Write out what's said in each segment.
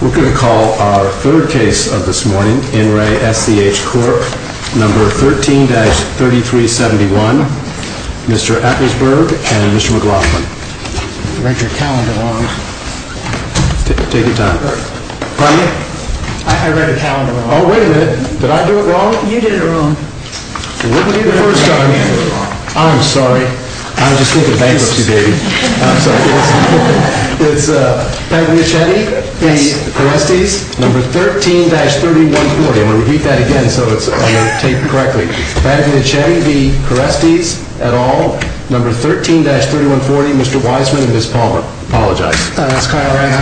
We're going to call our third case of this morning, NRA SCH Corp, number 13-3371, Mr. Atkinsburg and Mr. McLaughlin. I read your calendar wrong. Take your time. Pardon me? I read your calendar wrong. Oh, wait a minute. Did I do it wrong? You did it wrong. It wouldn't be the first time. I'm sorry. I was just thinking bankruptcy, baby. I'm sorry. It's Pagliaccetti v. Kerestes, number 13-3140. I'm going to repeat that again so it's taken correctly. Pagliaccetti v. Kerestes et al., number 13-3140, Mr. Wiseman and Ms. Palmer. Apologize. That's kind of right.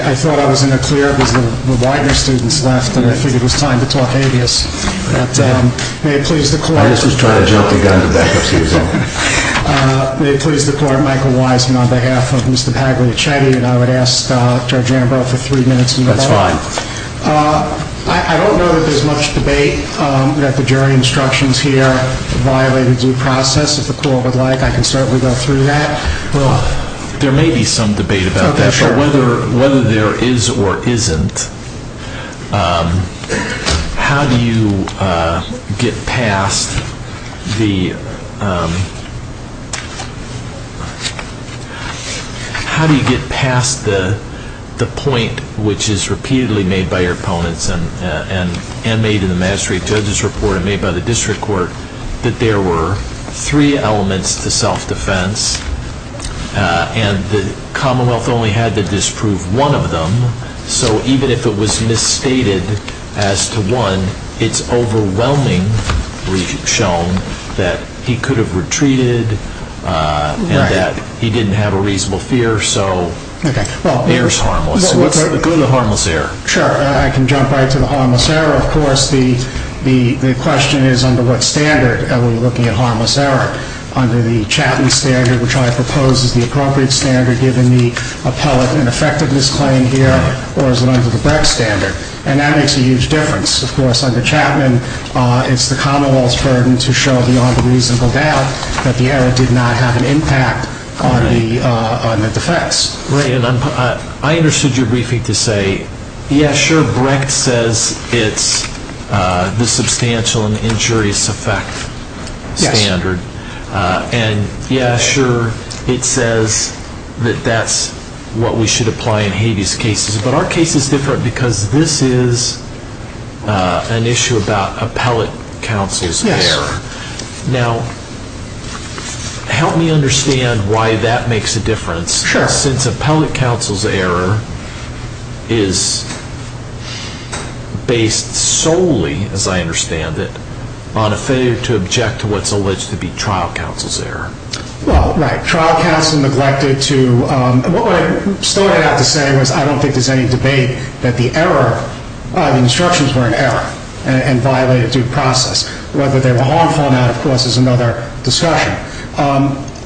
I thought I was going to clear it because the Widener students left and I figured it was time to talk habeas. May it please the court. I was just trying to jump the gun to back up. Excuse me. May it please the court. Michael Wiseman on behalf of Mr. Pagliaccetti and I would ask Judge Ambrose for three minutes. That's fine. I don't know that there's much debate that the jury instructions here violated due process. If the court would like, I can certainly go through that. Well, there may be some debate about that, but whether there is or isn't, how do you get past the point which is repeatedly made by your opponents and made in the magistrate judge's report and made by the district court that there were three elements to self-defense and the Commonwealth only had to disprove one of them. So even if it was misstated as to one, it's overwhelmingly shown that he could have retreated and that he didn't have a reasonable fear. So what's the good of harmless error? Sure, I can jump right to the harmless error. Of course, the question is under what standard are we looking at harmless error? Under the Chapman standard, which I propose is the appropriate standard given the appellate and effectiveness claim here, or is it under the Brecht standard? And that makes a huge difference. Of course, under Chapman, it's the Commonwealth's burden to show beyond a reasonable doubt that the error did not have an impact on the defense. Right, and I understood your briefing to say, yeah, sure, Brecht says it's the substantial and injurious effect standard. Yes. And yeah, sure, it says that that's what we should apply in habeas cases. But our case is different because this is an issue about appellate counsel's error. Now, help me understand why that makes a difference. Sure. Since appellate counsel's error is based solely, as I understand it, on a failure to object to what's alleged to be trial counsel's error. Well, right. Trial counsel neglected to, what I started out to say was I don't think there's any debate that the error, the instructions were an error and violated due process. Whether they were harmful or not, of course, is another discussion.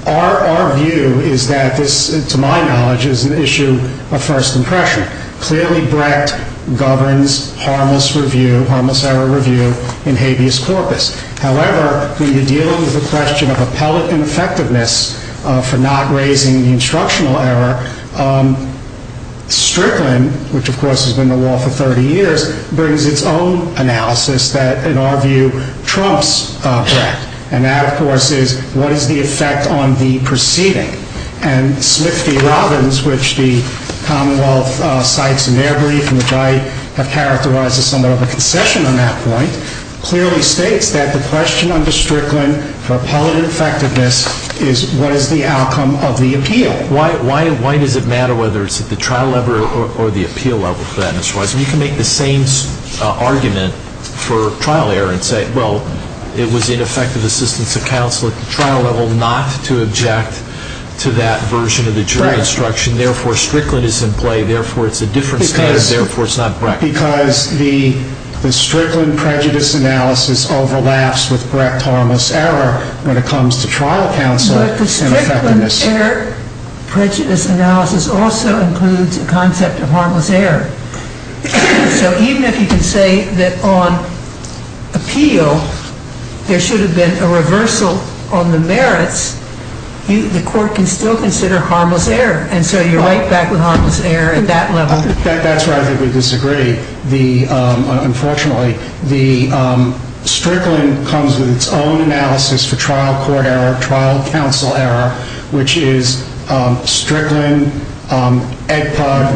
Our view is that this, to my knowledge, is an issue of first impression. Clearly, Brecht governs harmless review, harmless error review in habeas corpus. However, when you deal with the question of appellate ineffectiveness for not raising the instructional error, Strickland, which, of course, has been in the law for 30 years, brings its own analysis that, in our view, trumps Brecht. And that, of course, is what is the effect on the proceeding? And Smith v. Robbins, which the Commonwealth cites in their brief, and which I have characterized as somewhat of a concession on that point, clearly states that the question under Strickland for appellate ineffectiveness is what is the outcome of the appeal? Why does it matter whether it's at the trial level or the appeal level for that? And you can make the same argument for trial error and say, well, it was ineffective assistance of counsel at the trial level not to object to that version of the jury instruction. Therefore, Strickland is in play. Therefore, it's a different standard. Therefore, it's not Brecht. Because the Strickland prejudice analysis overlaps with Brecht harmless error when it comes to trial counsel and effectiveness. Prejudice analysis also includes a concept of harmless error. So even if you can say that, on appeal, there should have been a reversal on the merits, the court can still consider harmless error. And so you're right back with harmless error at that level. That's where I think we disagree. Unfortunately, Strickland comes with its own analysis for trial court error, trial counsel error, which is Strickland, Edpug,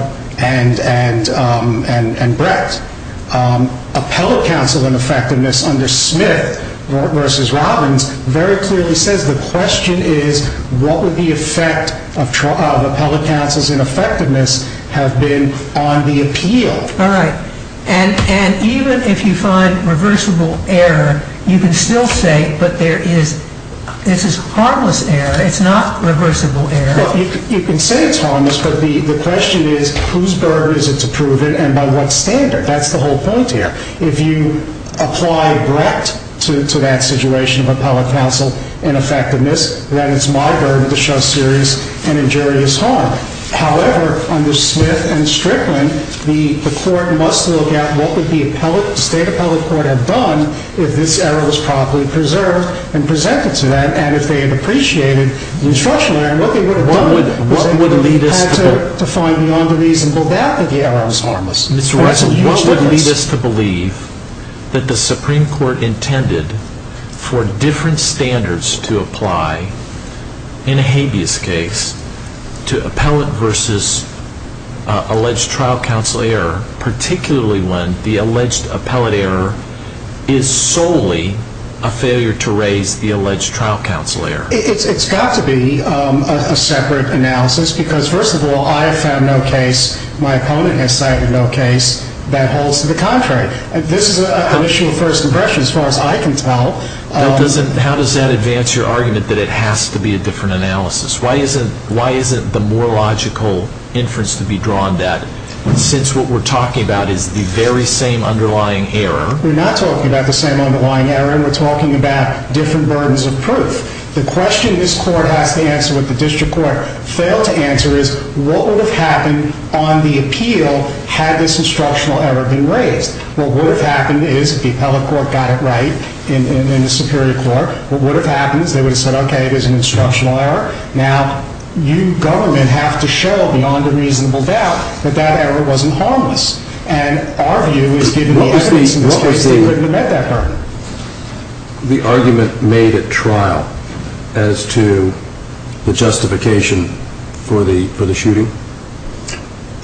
and Brecht. Appellate counsel ineffectiveness under Smith versus Robbins very clearly says the question is what would the effect of appellate counsel's ineffectiveness have been on the appeal? All right. And even if you find reversible error, you can still say, but this is harmless error. It's not reversible error. You can say it's harmless, but the question is whose burden is it to prove it and by what standard? That's the whole point here. If you apply Brecht to that situation of appellate counsel ineffectiveness, then it's my burden to show serious and injurious harm. However, under Smith and Strickland, the court must look at what would the state appellate court have done if this error was properly preserved and presented to them, and if they had appreciated the instructional error, what they would have done with it? What would lead us to find beyond a reasonable doubt that the error was harmless? Mr. Russell, what would lead us to believe that the Supreme Court intended for different standards to apply in a habeas case to appellate versus alleged trial counsel error, particularly when the alleged appellate error is solely a failure to raise the alleged trial counsel error? It's got to be a separate analysis because, first of all, I have found no case, my opponent has cited no case, that holds to the contrary. This is an initial first impression as far as I can tell. How does that advance your argument that it has to be a different analysis? Why isn't the more logical inference to be drawn that since what we're talking about is the very same underlying error? We're not talking about the same underlying error. We're talking about different burdens of proof. The question this court has to answer, what the district court failed to answer, is what would have happened on the appeal had this instructional error been raised? What would have happened is if the appellate court got it right in the Superior Court, what would have happened is they would have said, okay, it is an instructional error. Now, you government have to show beyond a reasonable doubt that that error wasn't harmless. And our view is given the evidence in this case, they wouldn't have met that burden. The argument made at trial as to the justification for the shooting?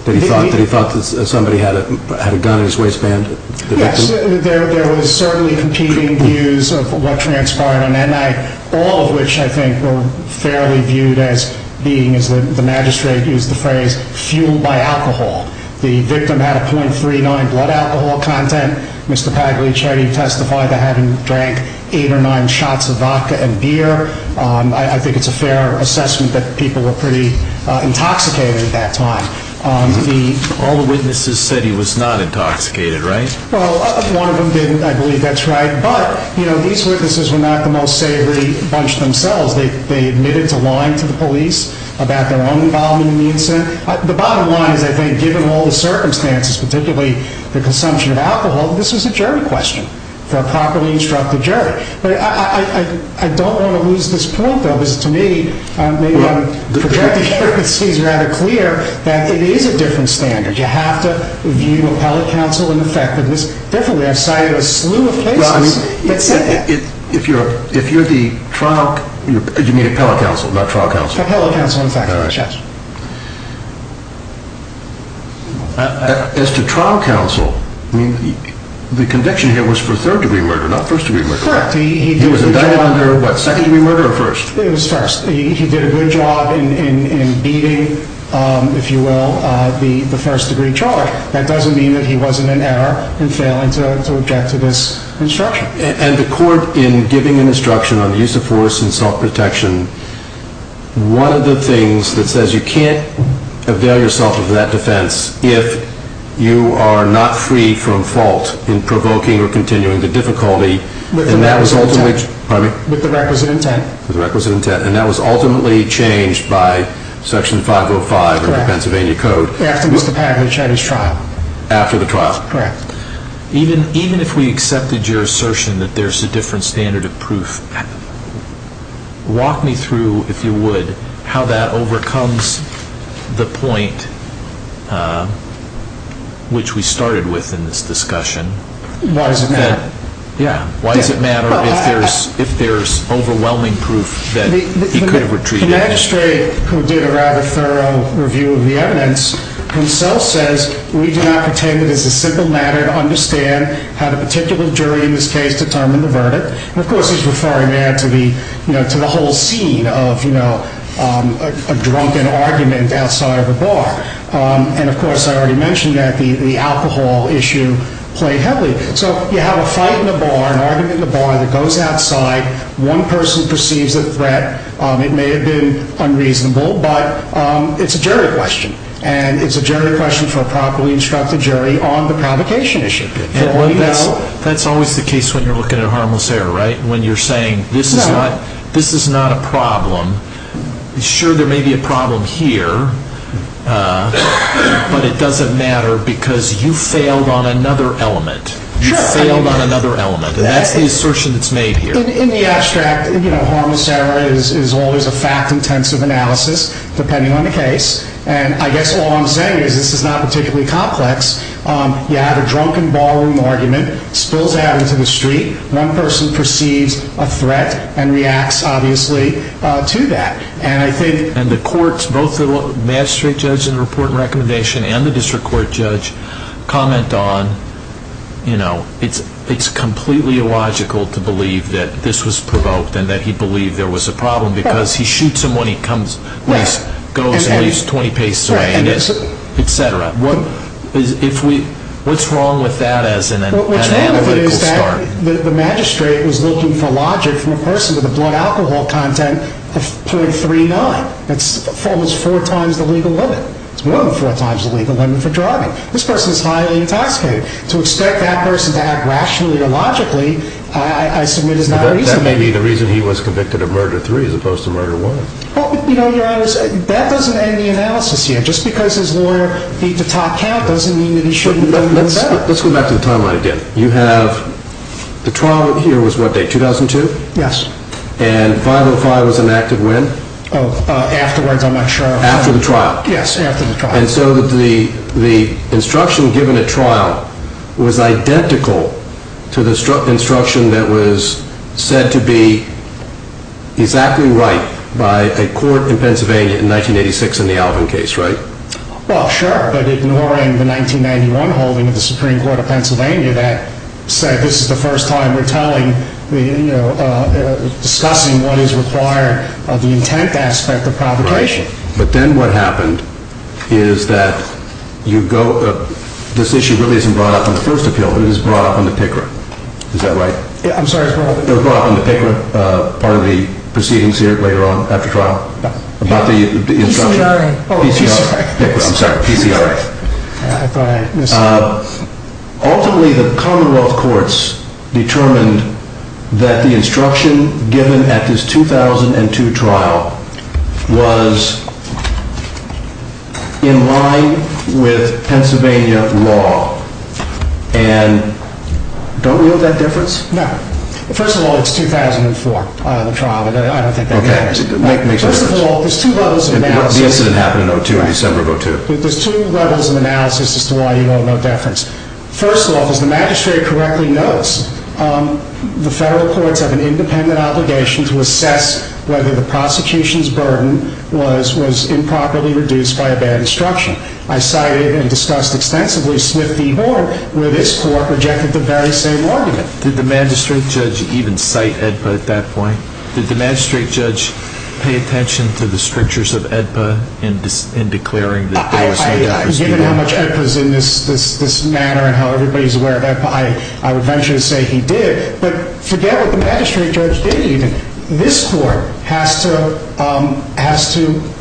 That he thought that somebody had a gun in his waistband? Yes, there was certainly competing views of what transpired on that night, all of which I think were fairly viewed as being, as the magistrate used the phrase, fueled by alcohol. The victim had a .39 blood alcohol content. Mr. Pagliari testified to having drank eight or nine shots of vodka and beer. I think it's a fair assessment that people were pretty intoxicated at that time. All the witnesses said he was not intoxicated, right? Well, one of them didn't, I believe that's right. But, you know, these witnesses were not the most savory bunch themselves. They admitted to lying to the police about their own involvement in the incident. The bottom line is, I think, given all the circumstances, particularly the consumption of alcohol, this was a jury question for a properly instructed jury. But I don't want to lose this point, though, because to me, maybe I'm projecting here, but it seems rather clear that it is a different standard. You have to view appellate counsel and effectiveness differently. I've cited a slew of cases that said that. If you're the trial, you mean appellate counsel, not trial counsel? Appellate counsel and effectiveness, yes. As to trial counsel, the conviction here was for third degree murder, not first degree murder. Correct. He was indicted under what, second degree murder or first? It was first. He did a good job in beating, if you will, the first degree charge. That doesn't mean that he wasn't in error in failing to object to this instruction. And the court, in giving an instruction on the use of force and self-protection, one of the things that says you can't avail yourself of that defense if you are not free from fault in provoking or continuing the difficulty. With the requisite intent. With the requisite intent. And that was ultimately changed by Section 505 of the Pennsylvania Code. After Mr. Packard had his trial. After the trial. Correct. Even if we accepted your assertion that there's a different standard of proof, walk me through, if you would, how that overcomes the point which we started with in this discussion. Why is it that? Yeah. Why does it matter if there's overwhelming proof that he could have retreated? The magistrate who did a rather thorough review of the evidence himself says, we do not pretend that it's a simple matter to understand how the particular jury in this case determined the verdict. And, of course, he's referring there to the whole scene of a drunken argument outside of a bar. And, of course, I already mentioned that the alcohol issue played heavily. So you have a fight in a bar, an argument in a bar that goes outside. One person perceives a threat. It may have been unreasonable, but it's a jury question. And it's a jury question for a properly instructed jury on the provocation issue. That's always the case when you're looking at a harmless error, right? When you're saying this is not a problem. Sure, there may be a problem here. But it doesn't matter because you failed on another element. You failed on another element. And that's the assertion that's made here. In the abstract, you know, harmless error is always a fact-intensive analysis depending on the case. And I guess all I'm saying is this is not particularly complex. You have a drunken ballroom argument, spills out into the street. One person perceives a threat and reacts, obviously, to that. And the courts, both the magistrate judge in the report and recommendation and the district court judge, comment on, you know, it's completely illogical to believe that this was provoked and that he believed there was a problem because he shoots him when he comes, goes and leaves 20 paces away, et cetera. What's wrong with that as an analytical start? The magistrate was looking for logic from a person with a blood alcohol content of .39. That's almost four times the legal limit. It's more than four times the legal limit for driving. This person is highly intoxicated. To expect that person to act rationally or logically, I submit, is not reasonable. But that may be the reason he was convicted of murder three as opposed to murder one. Well, you know, Your Honor, that doesn't end the analysis here. Just because his lawyer beat the top count doesn't mean that he shouldn't have done better. Let's go back to the timeline again. You have the trial here was what day, 2002? Yes. And 505 was enacted when? Afterwards, I'm not sure. After the trial? Yes, after the trial. And so the instruction given at trial was identical to the instruction that was said to be exactly right by a court in Pennsylvania in 1986 in the Alvin case, right? Well, sure, but ignoring the 1991 holding of the Supreme Court of Pennsylvania that said this is the first time we're discussing what is required of the intent aspect of provocation. Right. But then what happened is that this issue really isn't brought up in the first appeal. It is brought up in the PICRA. Is that right? I'm sorry. It was brought up in the PICRA part of the proceedings here later on after trial? No. About the instruction? PCRA. PCRA. I'm sorry. PCRA. I thought I misheard. Ultimately, the Commonwealth courts determined that the instruction given at this 2002 trial was in line with Pennsylvania law. And don't we know that difference? No. First of all, it's 2004, the trial. I don't think that matters. Okay. It makes a difference. First of all, there's two levels of analysis. The incident happened in 2002, December of 2002. There's two levels of analysis as to why you want to know deference. First of all, as the magistrate correctly notes, the federal courts have an independent obligation to assess whether the prosecution's burden was improperly reduced by a bad instruction. I cited and discussed extensively Swift v. Horn, where this court rejected the very same argument. Did the magistrate judge even cite AEDPA at that point? Did the magistrate judge pay attention to the strictures of AEDPA in declaring that there was no deference? Given how much AEDPA is in this matter and how everybody is aware of AEDPA, I would venture to say he did. But forget what the magistrate judge did even. This court has to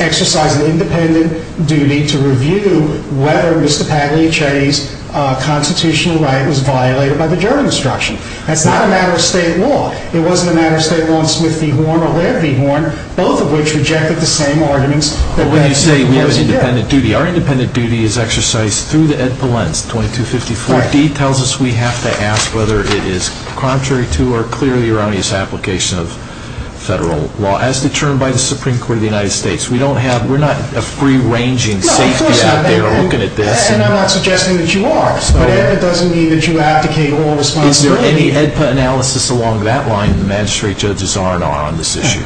exercise an independent duty to review whether Mr. Pagliacci's constitutional right was violated by the German instruction. That's not a matter of state law. It wasn't a matter of state law, Swift v. Horn or Ware v. Horn, both of which rejected the same arguments. But when you say we have an independent duty, our independent duty is exercised through the AEDPA lens. 2254d tells us we have to ask whether it is contrary to or clearly erroneous application of federal law as determined by the Supreme Court of the United States. We're not a free-ranging safety out there looking at this. No, of course not. And I'm not suggesting that you are. But AEDPA doesn't mean that you abdicate all responsibility. Is there any AEDPA analysis along that line in the magistrate judge's R&R on this issue?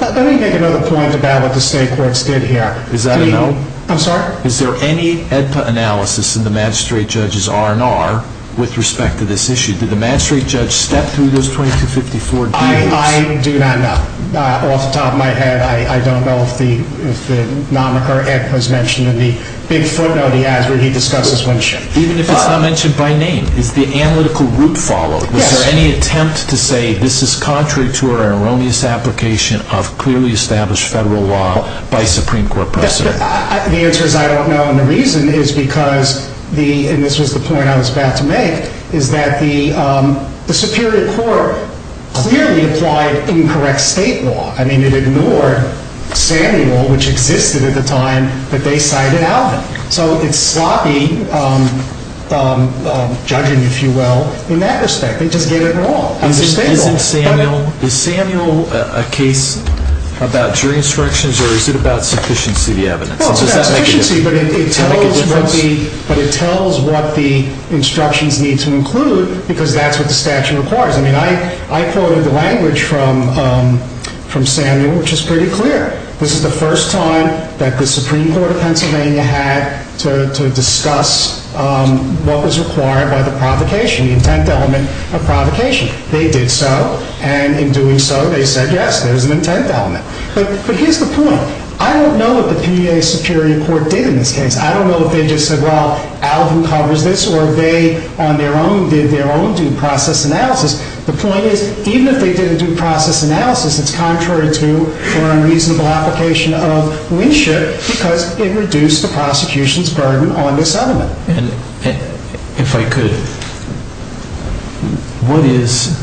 Let me make another point about what the state courts did here. Is that a no? I'm sorry? Is there any AEDPA analysis in the magistrate judge's R&R with respect to this issue? Did the magistrate judge step through those 2254d rules? I do not know. Off the top of my head, I don't know if the AEDPA is mentioned in the big footnote he has where he discusses Winship. Even if it's not mentioned by name, is the analytical route followed? Yes. Was there any attempt to say this is contrary to or erroneous application of clearly established federal law by Supreme Court precedent? The answer is I don't know. And the reason is because the—and this was the point I was about to make—is that the Superior Court clearly applied incorrect state law. I mean, it ignored Samuel, which existed at the time that they cited Alvin. So it's sloppy judging, if you will, in that respect. It doesn't get it at all. Is Samuel a case about jury instructions or is it about sufficiency of the evidence? Well, it's about sufficiency, but it tells what the instructions need to include because that's what the statute requires. I mean, I quoted the language from Samuel, which is pretty clear. This is the first time that the Supreme Court of Pennsylvania had to discuss what was required by the provocation, the intent element of provocation. They did so, and in doing so, they said, yes, there's an intent element. But here's the point. I don't know what the PEA Superior Court did in this case. I don't know if they just said, well, Alvin covers this, or they on their own did their own due process analysis. The point is, even if they did a due process analysis, it's contrary to our unreasonable application of Winship because it reduced the prosecution's burden on this element. And if I could, what is,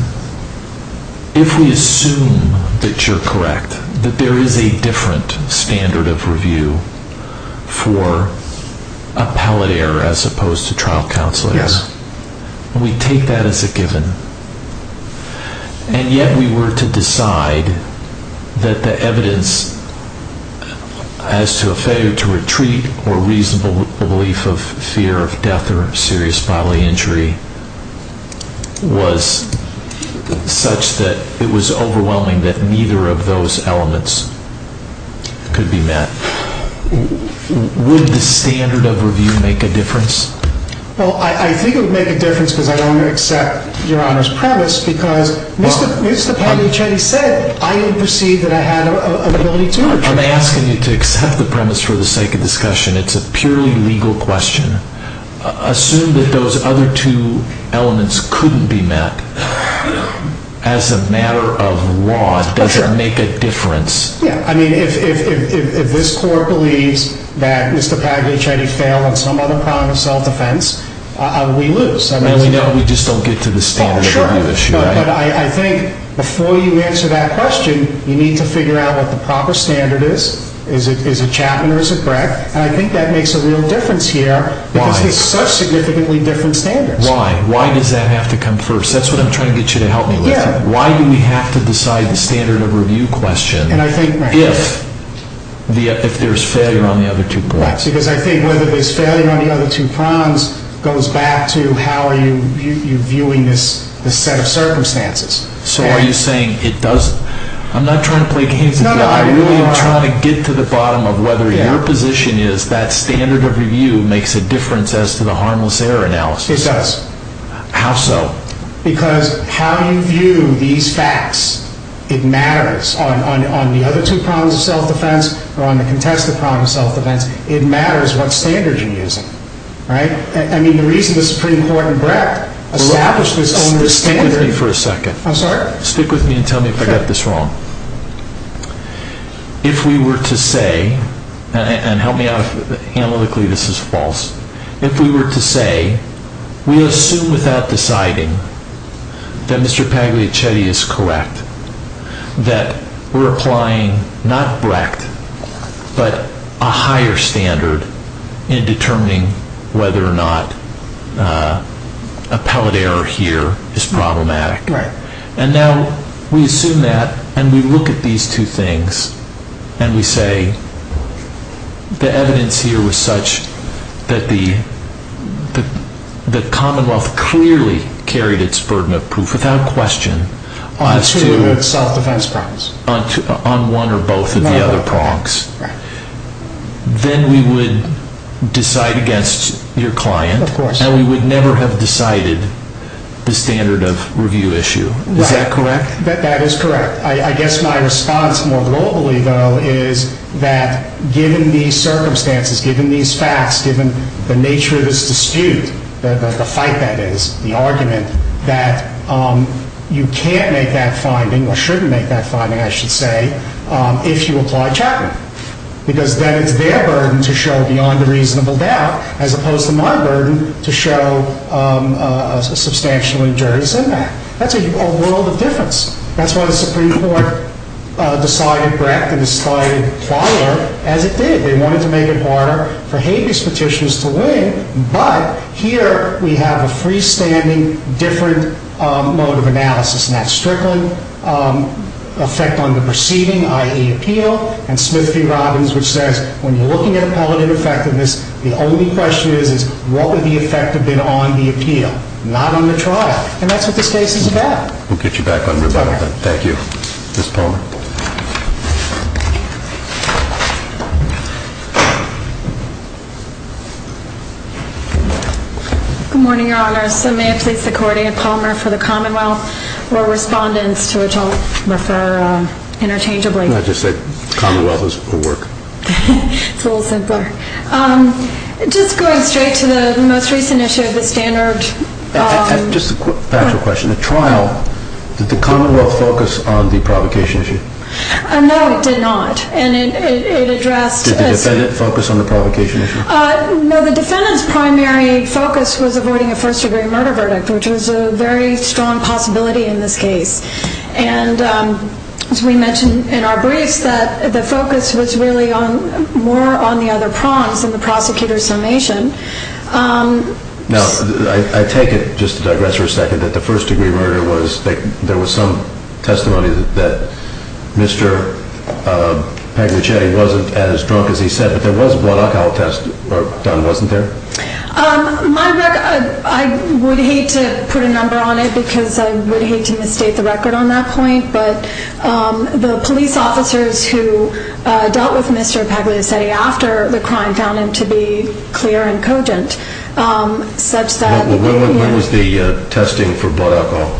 if we assume that you're correct, that there is a different standard of review for appellate error as opposed to trial counselors? Yes. We take that as a given. And yet we were to decide that the evidence as to a failure to retreat or reasonable belief of fear of death or serious bodily injury was such that it was overwhelming that neither of those elements could be met. Would the standard of review make a difference? Well, I think it would make a difference because I don't accept Your Honor's premise because Mr. Paglicetti said I didn't perceive that I had an ability to retreat. I'm asking you to accept the premise for the sake of discussion. It's a purely legal question. Assume that those other two elements couldn't be met. As a matter of law, does it make a difference? Yeah. I mean, if this court believes that Mr. Paglicetti failed on some other crime of self-defense, we lose. And we just don't get to the standard of review issue, right? But I think before you answer that question, you need to figure out what the proper standard is. Is it Chapman or is it Breck? And I think that makes a real difference here because it's such significantly different standards. Why? Why does that have to come first? That's what I'm trying to get you to help me with. Yeah. Why do we have to decide the standard of review question? If there's failure on the other two prongs. Because I think whether there's failure on the other two prongs goes back to how are you viewing this set of circumstances. So are you saying it doesn't? I'm not trying to play games with you. I really am trying to get to the bottom of whether your position is that standard of review makes a difference as to the harmless error analysis. It does. How so? Because how you view these facts, it matters on the other two prongs of self-defense or on the contested prong of self-defense. It matters what standard you're using, right? I mean, the reason the Supreme Court and Breck established this standard. Stick with me for a second. I'm sorry? Stick with me and tell me if I got this wrong. If we were to say, and help me out analytically, this is false. If we were to say, we assume without deciding that Mr. Pagliacetti is correct, that we're applying not Breck, but a higher standard in determining whether or not a pellet error here is problematic. Right. And now we assume that and we look at these two things and we say, the evidence here was such that the Commonwealth clearly carried its burden of proof without question. On the two self-defense prongs. On one or both of the other prongs. Right. Of course. And we would never have decided the standard of review issue. Is that correct? That is correct. I guess my response more globally, though, is that given these circumstances, given these facts, given the nature of this dispute, the fight that is, the argument, that you can't make that finding, or shouldn't make that finding, I should say, if you apply Chapman. Because then it's their burden to show beyond a reasonable doubt, as opposed to my burden to show a substantially jury's impact. That's a world of difference. That's why the Supreme Court decided Breck and decided Fowler as it did. They wanted to make it harder for habeas petitions to win. But here we have a freestanding, different mode of analysis. And that's Strickland, effect on the proceeding, i.e. appeal, and Smith v. Robbins, which says, when you're looking at appellate ineffectiveness, the only question is, what would the effect have been on the appeal? Not on the trial. And that's what this case is about. We'll get you back on rebuttal then. Thank you. Ms. Palmer. Good morning, Your Honor. So may it please the court, I am Palmer for the Commonwealth. We're respondents, to which I'll refer interchangeably. No, I just said, Commonwealth is for work. It's a little simpler. Just going straight to the most recent issue of the standard. Just a factual question. The trial, did the Commonwealth focus on the provocation issue? No, it did not. And it addressed. Did the defendant focus on the provocation issue? No, the defendant's primary focus was avoiding a first-degree murder verdict, which was a very strong possibility in this case. And as we mentioned in our briefs, the focus was really more on the other prongs in the prosecutor's summation. Now, I take it, just to digress for a second, that the first-degree murder was, there was some testimony that Mr. Pagliacetti wasn't as drunk as he said. But there was a blood alcohol test done, wasn't there? My record, I would hate to put a number on it because I would hate to misstate the record on that point. But the police officers who dealt with Mr. Pagliacetti after the crime found him to be clear and cogent, such that. When was the testing for blood alcohol?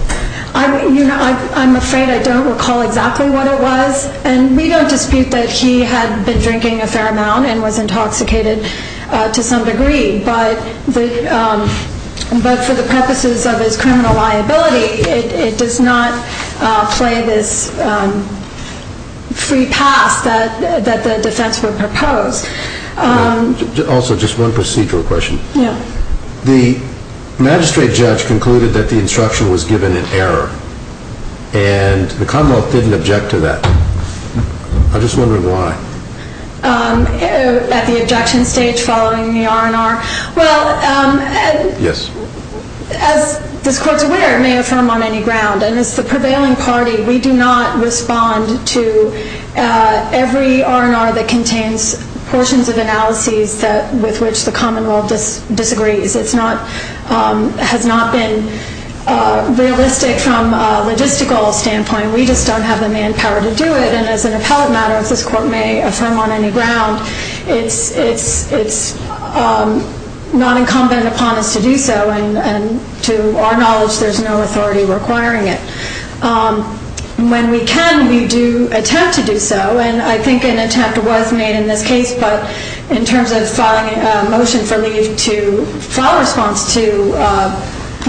I'm afraid I don't recall exactly what it was. And we don't dispute that he had been drinking a fair amount and was intoxicated to some degree. But for the purposes of his criminal liability, it does not play this free pass that the defense would propose. Also, just one procedural question. Yeah. The magistrate judge concluded that the instruction was given in error. And the Commonwealth didn't object to that. I'm just wondering why. At the objection stage following the R&R? Well, as this court's aware, it may affirm on any ground. And as the prevailing party, we do not respond to every R&R that contains portions of analyses with which the Commonwealth disagrees. It has not been realistic from a logistical standpoint. We just don't have the manpower to do it. And as an appellate matter, as this court may affirm on any ground, it's not incumbent upon us to do so. And to our knowledge, there's no authority requiring it. When we can, we do attempt to do so. And I think an attempt was made in this case, but in terms of filing a motion for leave to file a response to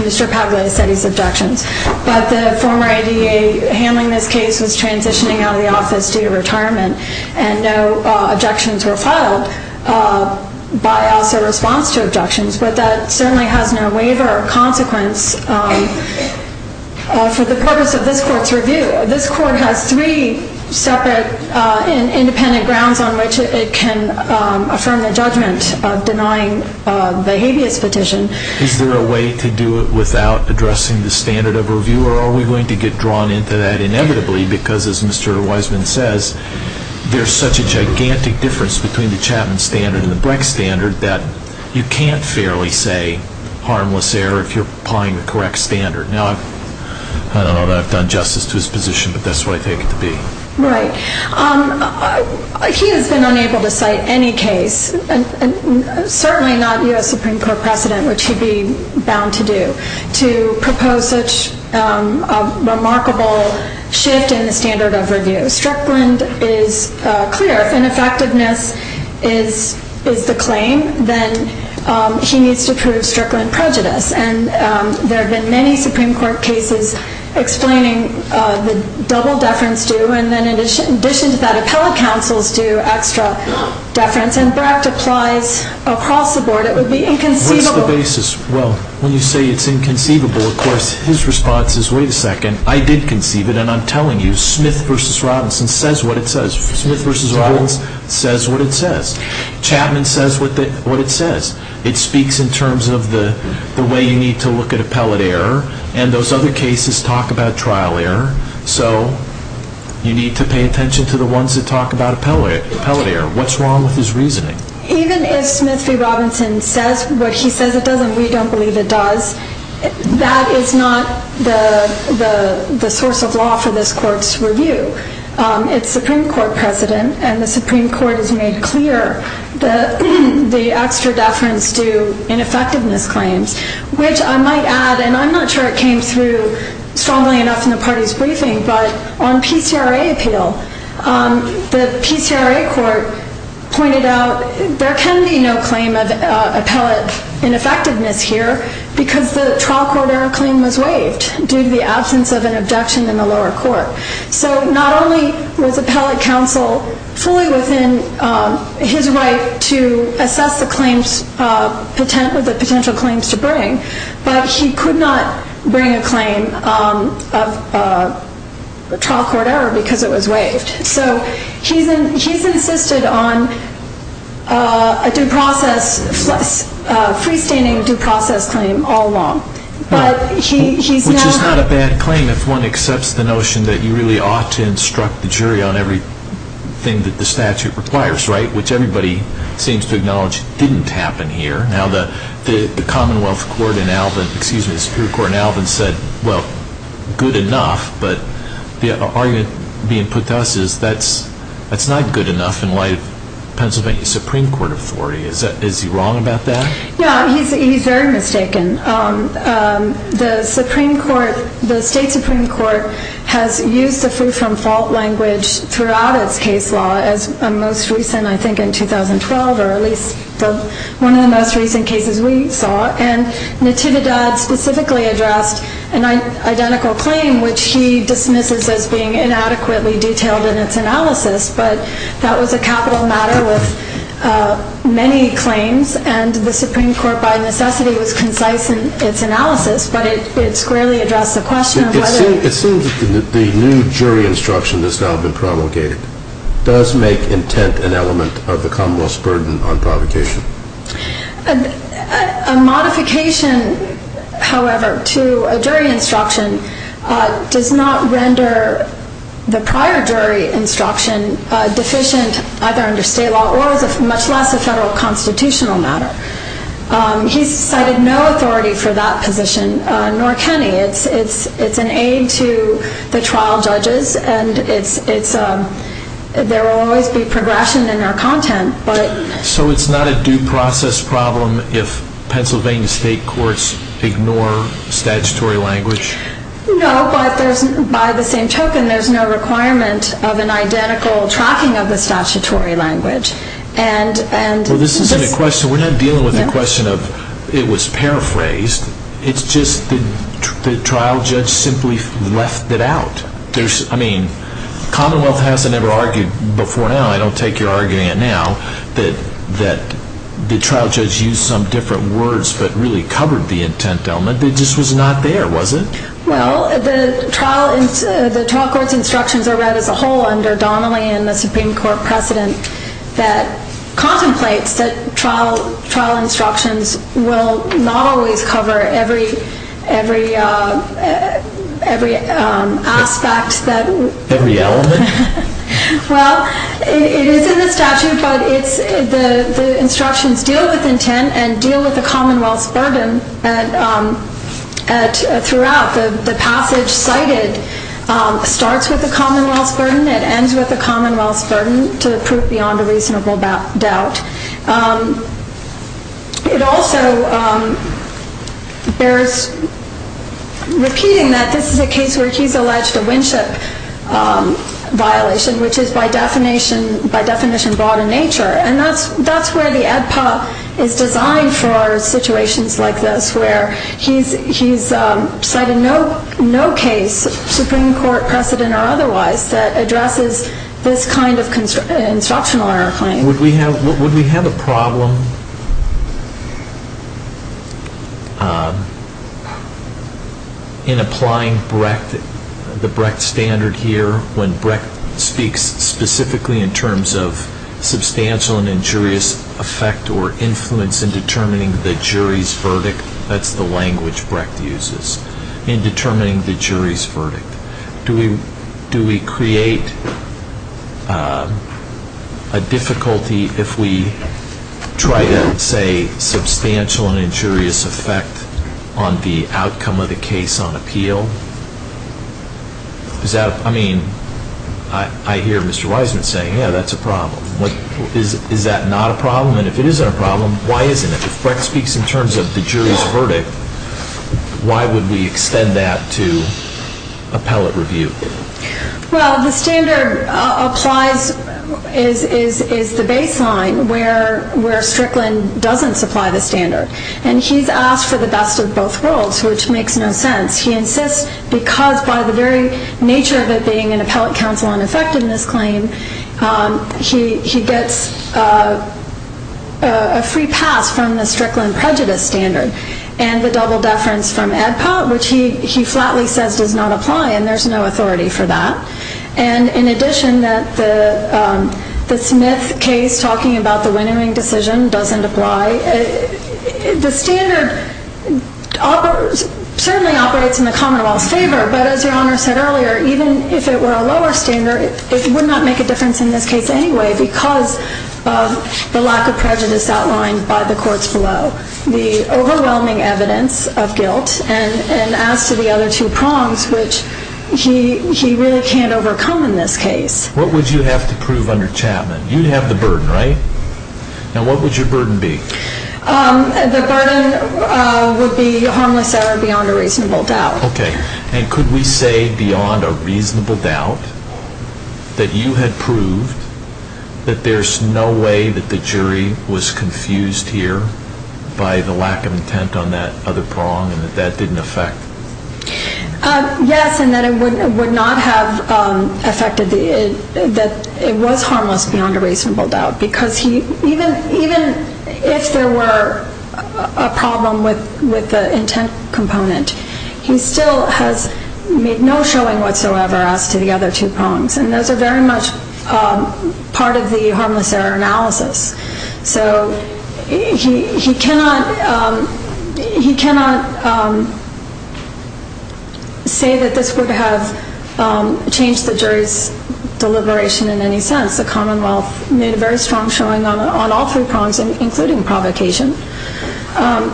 Mr. Pagliacetti's objections. But the former ADA handling this case was transitioning out of the office due to retirement. And no objections were filed by us in response to objections. But that certainly has no waiver or consequence for the purpose of this court's review. This court has three separate independent grounds on which it can affirm the judgment of denying the habeas petition. Is there a way to do it without addressing the standard of review, or are we going to get drawn into that inevitably? Because, as Mr. Wiseman says, there's such a gigantic difference between the Chapman standard and the Breck standard that you can't fairly say harmless error if you're applying the correct standard. Now, I don't know that I've done justice to his position, but that's what I take it to be. Right. He has been unable to cite any case, certainly not U.S. Supreme Court precedent, which he'd be bound to do, to propose such a remarkable shift in the standard of review. Strickland is clear. If ineffectiveness is the claim, then he needs to prove Strickland prejudice. And there have been many Supreme Court cases explaining the double deference due, and then in addition to that, appellate counsels do extra deference. And Breck applies across the board. It would be inconceivable. What is the basis? Well, when you say it's inconceivable, of course, his response is, wait a second, I did conceive it, and I'm telling you, Smith v. Robinson says what it says. Smith v. Robinson says what it says. Chapman says what it says. It speaks in terms of the way you need to look at appellate error, and those other cases talk about trial error, so you need to pay attention to the ones that talk about appellate error. What's wrong with his reasoning? Even if Smith v. Robinson says what he says it does, and we don't believe it does, that is not the source of law for this Court's review. It's Supreme Court precedent, and the Supreme Court has made clear the extra deference due ineffectiveness claims, which I might add, and I'm not sure it came through strongly enough in the party's briefing, but on PCRA appeal, the PCRA court pointed out there can be no claim of appellate ineffectiveness here because the trial court error claim was waived due to the absence of an abduction in the lower court. So not only was appellate counsel fully within his right to assess the potential claims to bring, but he could not bring a claim of trial court error because it was waived. So he's insisted on a freestanding due process claim all along. Which is not a bad claim if one accepts the notion that you really ought to instruct the jury on everything that the statute requires, right, which everybody seems to acknowledge didn't happen here. Now the Commonwealth Court in Alvin, excuse me, the Superior Court in Alvin said, well, good enough, but the argument being put to us is that's not good enough in light of Pennsylvania Supreme Court authority. Is he wrong about that? Yeah, he's very mistaken. The Supreme Court, the state Supreme Court has used the free from fault language throughout its case law as a most recent, I think, in 2012 or at least one of the most recent cases we saw. And Natividad specifically addressed an identical claim, which he dismisses as being inadequately detailed in its analysis. But that was a capital matter with many claims and the Supreme Court by necessity was concise in its analysis, but it squarely addressed the question of whether... It seems that the new jury instruction that's now been provocated does make intent an element of the Commonwealth's burden on provocation. A modification, however, to a jury instruction does not render the prior jury instruction deficient either under state law or as much less a federal constitutional matter. He's cited no authority for that position, nor can he. It's an aid to the trial judges and there will always be progression in our content, but... So it's not a due process problem if Pennsylvania state courts ignore statutory language? No, but there's, by the same token, there's no requirement of an identical tracking of the statutory language. And... Well, this isn't a question, we're not dealing with a question of it was paraphrased. It's just the trial judge simply left it out. Commonwealth hasn't ever argued before now, I don't take your arguing it now, that the trial judge used some different words but really covered the intent element. It just was not there, was it? Well, the trial court's instructions are read as a whole under Donnelly and the Supreme Court precedent that contemplates that trial instructions will not always cover every aspect that... Every element? Well, it is in the statute, but the instructions deal with intent and deal with the Commonwealth's burden. Throughout, the passage cited starts with the Commonwealth's burden, it ends with the Commonwealth's burden to prove beyond a reasonable doubt. It also bears repeating that this is a case where he's alleged a Winship violation, which is by definition brought in nature. And that's where the ADPA is designed for situations like this, where he's cited no case, Supreme Court precedent or otherwise, that addresses this kind of instructional error claim. Would we have a problem in applying the Brecht standard here, when Brecht speaks specifically in terms of substantial and injurious effect or influence in determining the jury's verdict? That's the language Brecht uses, in determining the jury's verdict. Do we create a difficulty if we try to say substantial and injurious effect on the outcome of the case on appeal? I mean, I hear Mr. Wiseman saying, yeah, that's a problem. Is that not a problem? And if it isn't a problem, why isn't it? If Brecht speaks in terms of the jury's verdict, why would we extend that to appellate review? Well, the standard applies, is the baseline where Strickland doesn't supply the standard. And he's asked for the best of both worlds, which makes no sense. He insists because by the very nature of it being an appellate counsel on effectiveness claim, he gets a free pass from the Strickland prejudice standard, and the double deference from ADPOT, which he flatly says does not apply, and there's no authority for that. And in addition, the Smith case, talking about the winnowing decision, doesn't apply. But as Your Honor said earlier, even if it were a lower standard, it would not make a difference in this case anyway because of the lack of prejudice outlined by the courts below, the overwhelming evidence of guilt, and as to the other two prongs, which he really can't overcome in this case. What would you have to prove under Chapman? You'd have the burden, right? Now, what would your burden be? The burden would be harmless error beyond a reasonable doubt. Okay. And could we say beyond a reasonable doubt that you had proved that there's no way that the jury was confused here by the lack of intent on that other prong and that that didn't affect? Yes, and that it would not have affected, that it was harmless beyond a reasonable doubt because even if there were a problem with the intent component, he still has made no showing whatsoever as to the other two prongs, and those are very much part of the harmless error analysis. So he cannot say that this would have changed the jury's deliberation in any sense. The Commonwealth made a very strong showing on all three prongs, including provocation. I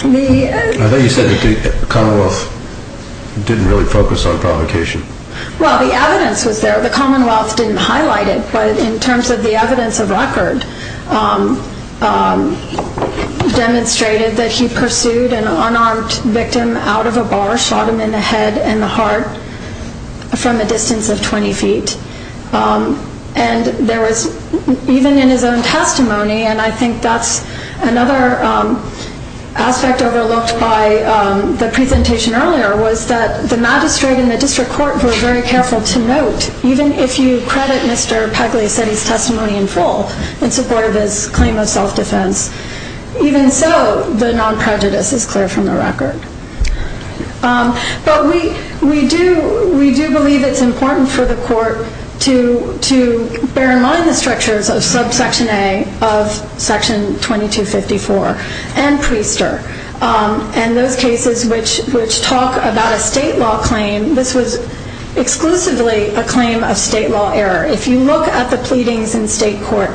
thought you said that the Commonwealth didn't really focus on provocation. Well, the evidence was there. The Commonwealth didn't highlight it, but in terms of the evidence of record, demonstrated that he pursued an unarmed victim out of a bar, shot him in the head and the heart from a distance of 20 feet. And there was, even in his own testimony, and I think that's another aspect overlooked by the presentation earlier, was that the magistrate and the district court were very careful to note, even if you credit Mr. Pagliacetti's testimony in full in support of his claim of self-defense, even so the non-prejudice is clear from the record. But we do believe it's important for the court to bear in mind the structures of subsection A of section 2254 and Priester, and those cases which talk about a state law claim. This was exclusively a claim of state law error. If you look at the pleadings in state court,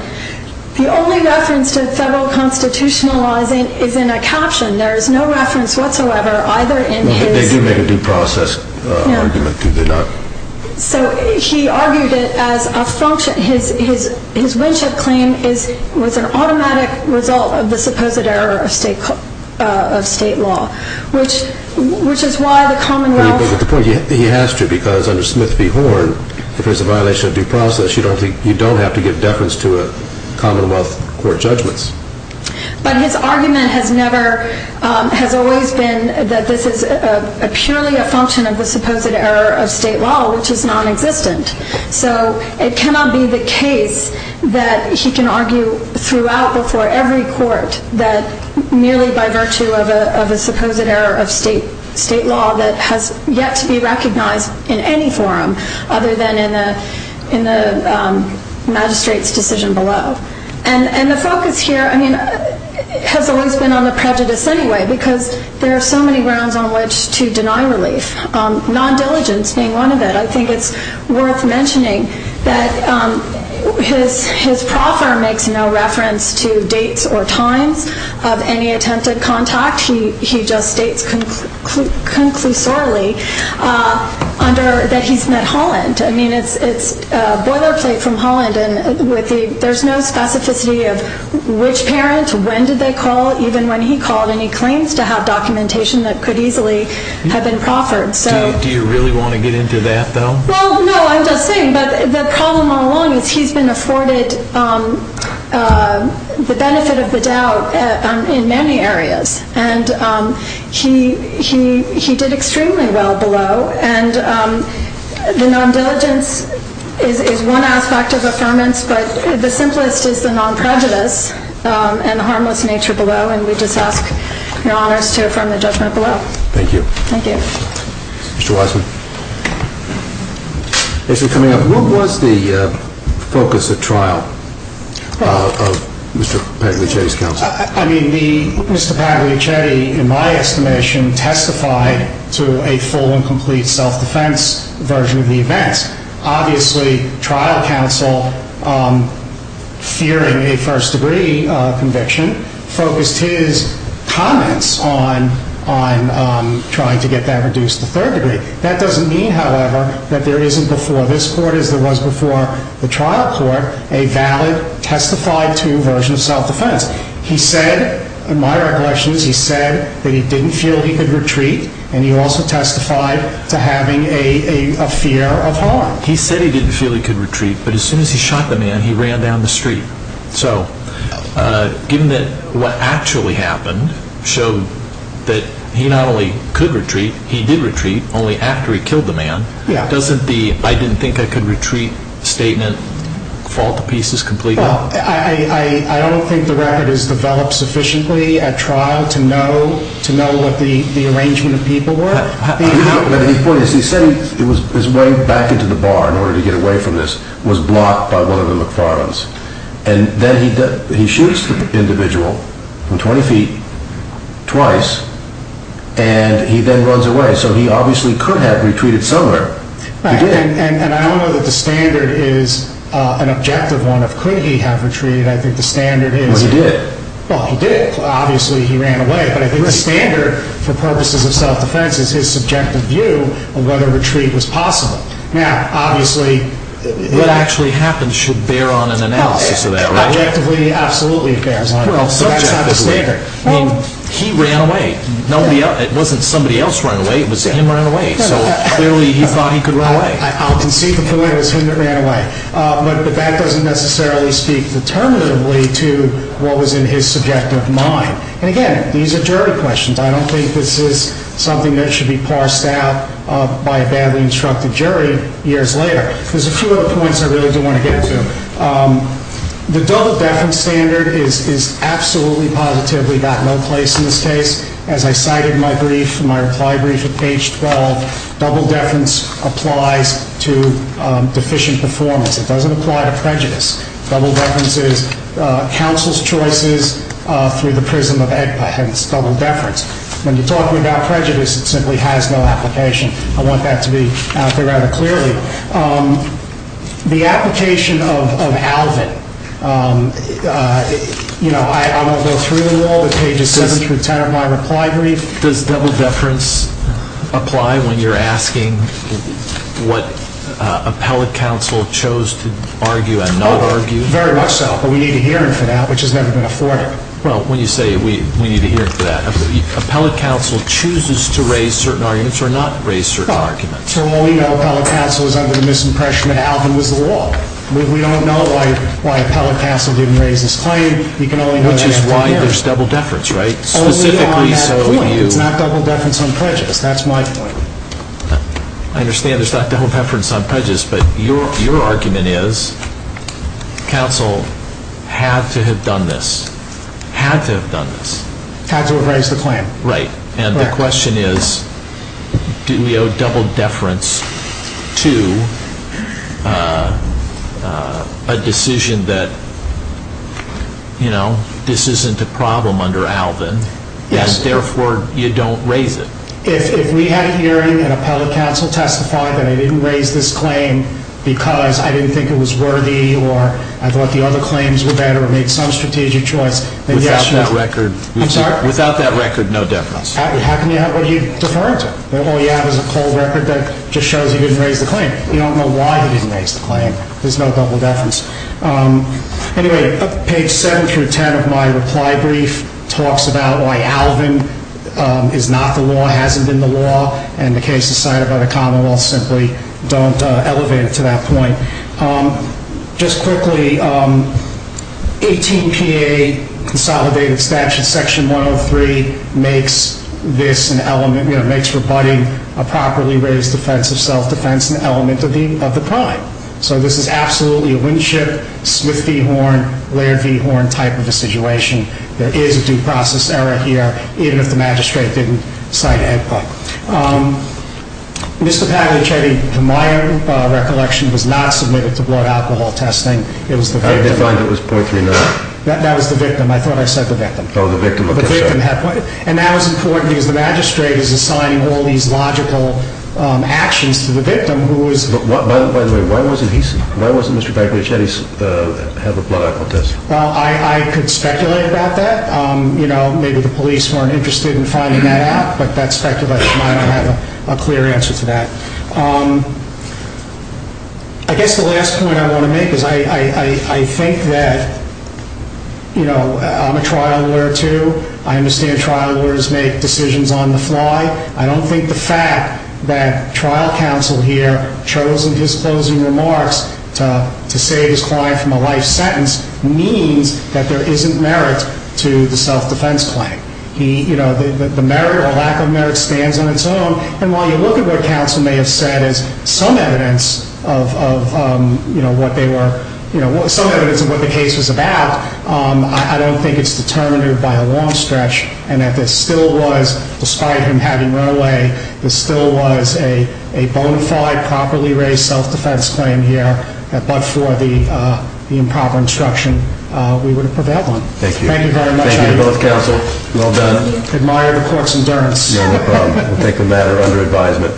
the only reference to federal constitutionalizing is in a caption. There is no reference whatsoever either in his- They do make a due process argument, do they not? So he argued it as a function. His Winship claim was an automatic result of the supposed error of state law, which is why the Commonwealth- You don't have to give deference to Commonwealth court judgments. But his argument has always been that this is purely a function of the supposed error of state law, which is non-existent. So it cannot be the case that he can argue throughout, before every court, that merely by virtue of a supposed error of state law that has yet to be recognized in any forum other than in the magistrate's decision below. And the focus here has always been on the prejudice anyway, because there are so many grounds on which to deny relief, non-diligence being one of it. I think it's worth mentioning that his proffer makes no reference to dates or times of any attempted contact. He just states conclusorily that he's met Holland. I mean, it's boilerplate from Holland. There's no specificity of which parent, when did they call, even when he called. And he claims to have documentation that could easily have been proffered. Do you really want to get into that, though? Well, no, I'm just saying that the problem all along is he's been afforded the benefit of the doubt in many areas. And he did extremely well below. And the non-diligence is one aspect of affirmance, but the simplest is the non-prejudice and the harmless nature below. And we just ask your honors to affirm the judgment below. Thank you. Thank you. Mr. Wiseman. As you're coming up, what was the focus of trial of Mr. Pagliace's counsel? I mean, Mr. Pagliacetti, in my estimation, testified to a full and complete self-defense version of the events. Obviously, trial counsel, fearing a first degree conviction, focused his comments on trying to get that reduced to third degree. That doesn't mean, however, that there isn't before this court, as there was before the trial court, a valid, testified-to version of self-defense. He said, in my recollection, he said that he didn't feel he could retreat, and he also testified to having a fear of harm. He said he didn't feel he could retreat, but as soon as he shot the man, he ran down the street. So given that what actually happened showed that he not only could retreat, he did retreat, only after he killed the man, doesn't the I didn't think I could retreat statement fall to pieces completely? Well, I don't think the record is developed sufficiently at trial to know what the arrangement of people were. But the point is, he said his way back into the bar in order to get away from this was blocked by one of the McFarlanes. And then he shoots the individual from 20 feet, twice, and he then runs away. So he obviously could have retreated somewhere. And I don't know that the standard is an objective one of could he have retreated. I think the standard is he did. Well, he did. Obviously, he ran away. But I think the standard, for purposes of self-defense, is his subjective view of whether retreat was possible. Now, obviously, what actually happened should bear on an analysis of that, right? Objectively, absolutely it bears on it. But that's not the standard. I mean, he ran away. It wasn't somebody else who ran away. It was him who ran away. So clearly he thought he could run away. I'll concede the point. It was him that ran away. But that doesn't necessarily speak determinatively to what was in his subjective mind. And, again, these are jury questions. I don't think this is something that should be parsed out by a badly instructed jury years later. There's a few other points I really do want to get to. The double-deference standard is absolutely positive. We got no place in this case. As I cited in my brief, in my reply brief at page 12, double-deference applies to deficient performance. It doesn't apply to prejudice. Double-deference is counsel's choices through the prism of evidence, double-deference. When you're talking about prejudice, it simply has no application. I want that to be out there rather clearly. The application of Alvin, I'm going to go through them all. The pages 7 through 10 of my reply brief. Does double-deference apply when you're asking what appellate counsel chose to argue and not argue? Very much so. But we need a hearing for that, which has never been afforded. Well, when you say we need a hearing for that, appellate counsel chooses to raise certain arguments or not raise certain arguments. So all we know, appellate counsel is under the misimpression that Alvin was the law. We don't know why appellate counsel didn't raise this claim. We can only know that after the hearing. Which is why there's double-deference, right? Only I have a point. It's not double-deference on prejudice. That's my point. I understand there's not double-deference on prejudice, but your argument is counsel had to have done this. Had to have done this. Had to have raised the claim. Right. And the question is, do we owe double-deference to a decision that, you know, this isn't a problem under Alvin, and therefore you don't raise it? If we had a hearing and appellate counsel testified that I didn't raise this claim because I didn't think it was worthy or I thought the other claims were better or made some strategic choice, then yes, you know. Without that record. I'm sorry? Without that record, no double-deference. How can you have it? What are you deferring to? Oh, yeah, there's a cold record that just shows he didn't raise the claim. You don't know why he didn't raise the claim. There's no double-deference. Anyway, page 7 through 10 of my reply brief talks about why Alvin is not the law, hasn't been the law, and the cases cited by the Commonwealth simply don't elevate it to that point. Just quickly, 18PA consolidated statute section 103 makes this an element, you know, makes rebutting a properly raised offense of self-defense an element of the crime. So this is absolutely a Winship, Smith v. Horn, Laird v. Horn type of a situation. There is a due process error here, even if the magistrate didn't cite it. Mr. Pagliacetti, to my recollection, was not submitted to blood alcohol testing. It was the victim. How did they find it was .39? That was the victim. I thought I said the victim. Oh, the victim. And that was important because the magistrate is assigning all these logical actions to the victim who is... By the way, why wasn't he, why wasn't Mr. Pagliacetti have a blood alcohol test? Well, I could speculate about that. You know, maybe the police weren't interested in finding that out, but that speculation might not have a clear answer to that. I guess the last point I want to make is I think that, you know, I'm a trial lawyer too. I understand trial lawyers make decisions on the fly. I don't think the fact that trial counsel here chosen his closing remarks to save his client from a life sentence means that there isn't merit to the self-defense claim. He, you know, the merit or lack of merit stands on its own. And while you look at what counsel may have said as some evidence of, you know, what they were, you know, some evidence of what the case was about, I don't think it's determinative by a long stretch and that there still was, despite him having run away, there still was a bona fide properly raised self-defense claim here but for the improper instruction we would have prevailed on. Thank you. Thank you very much. Thank you to both counsel. Well done. Admire the court's endurance. No problem. We'll take a matter under advisement.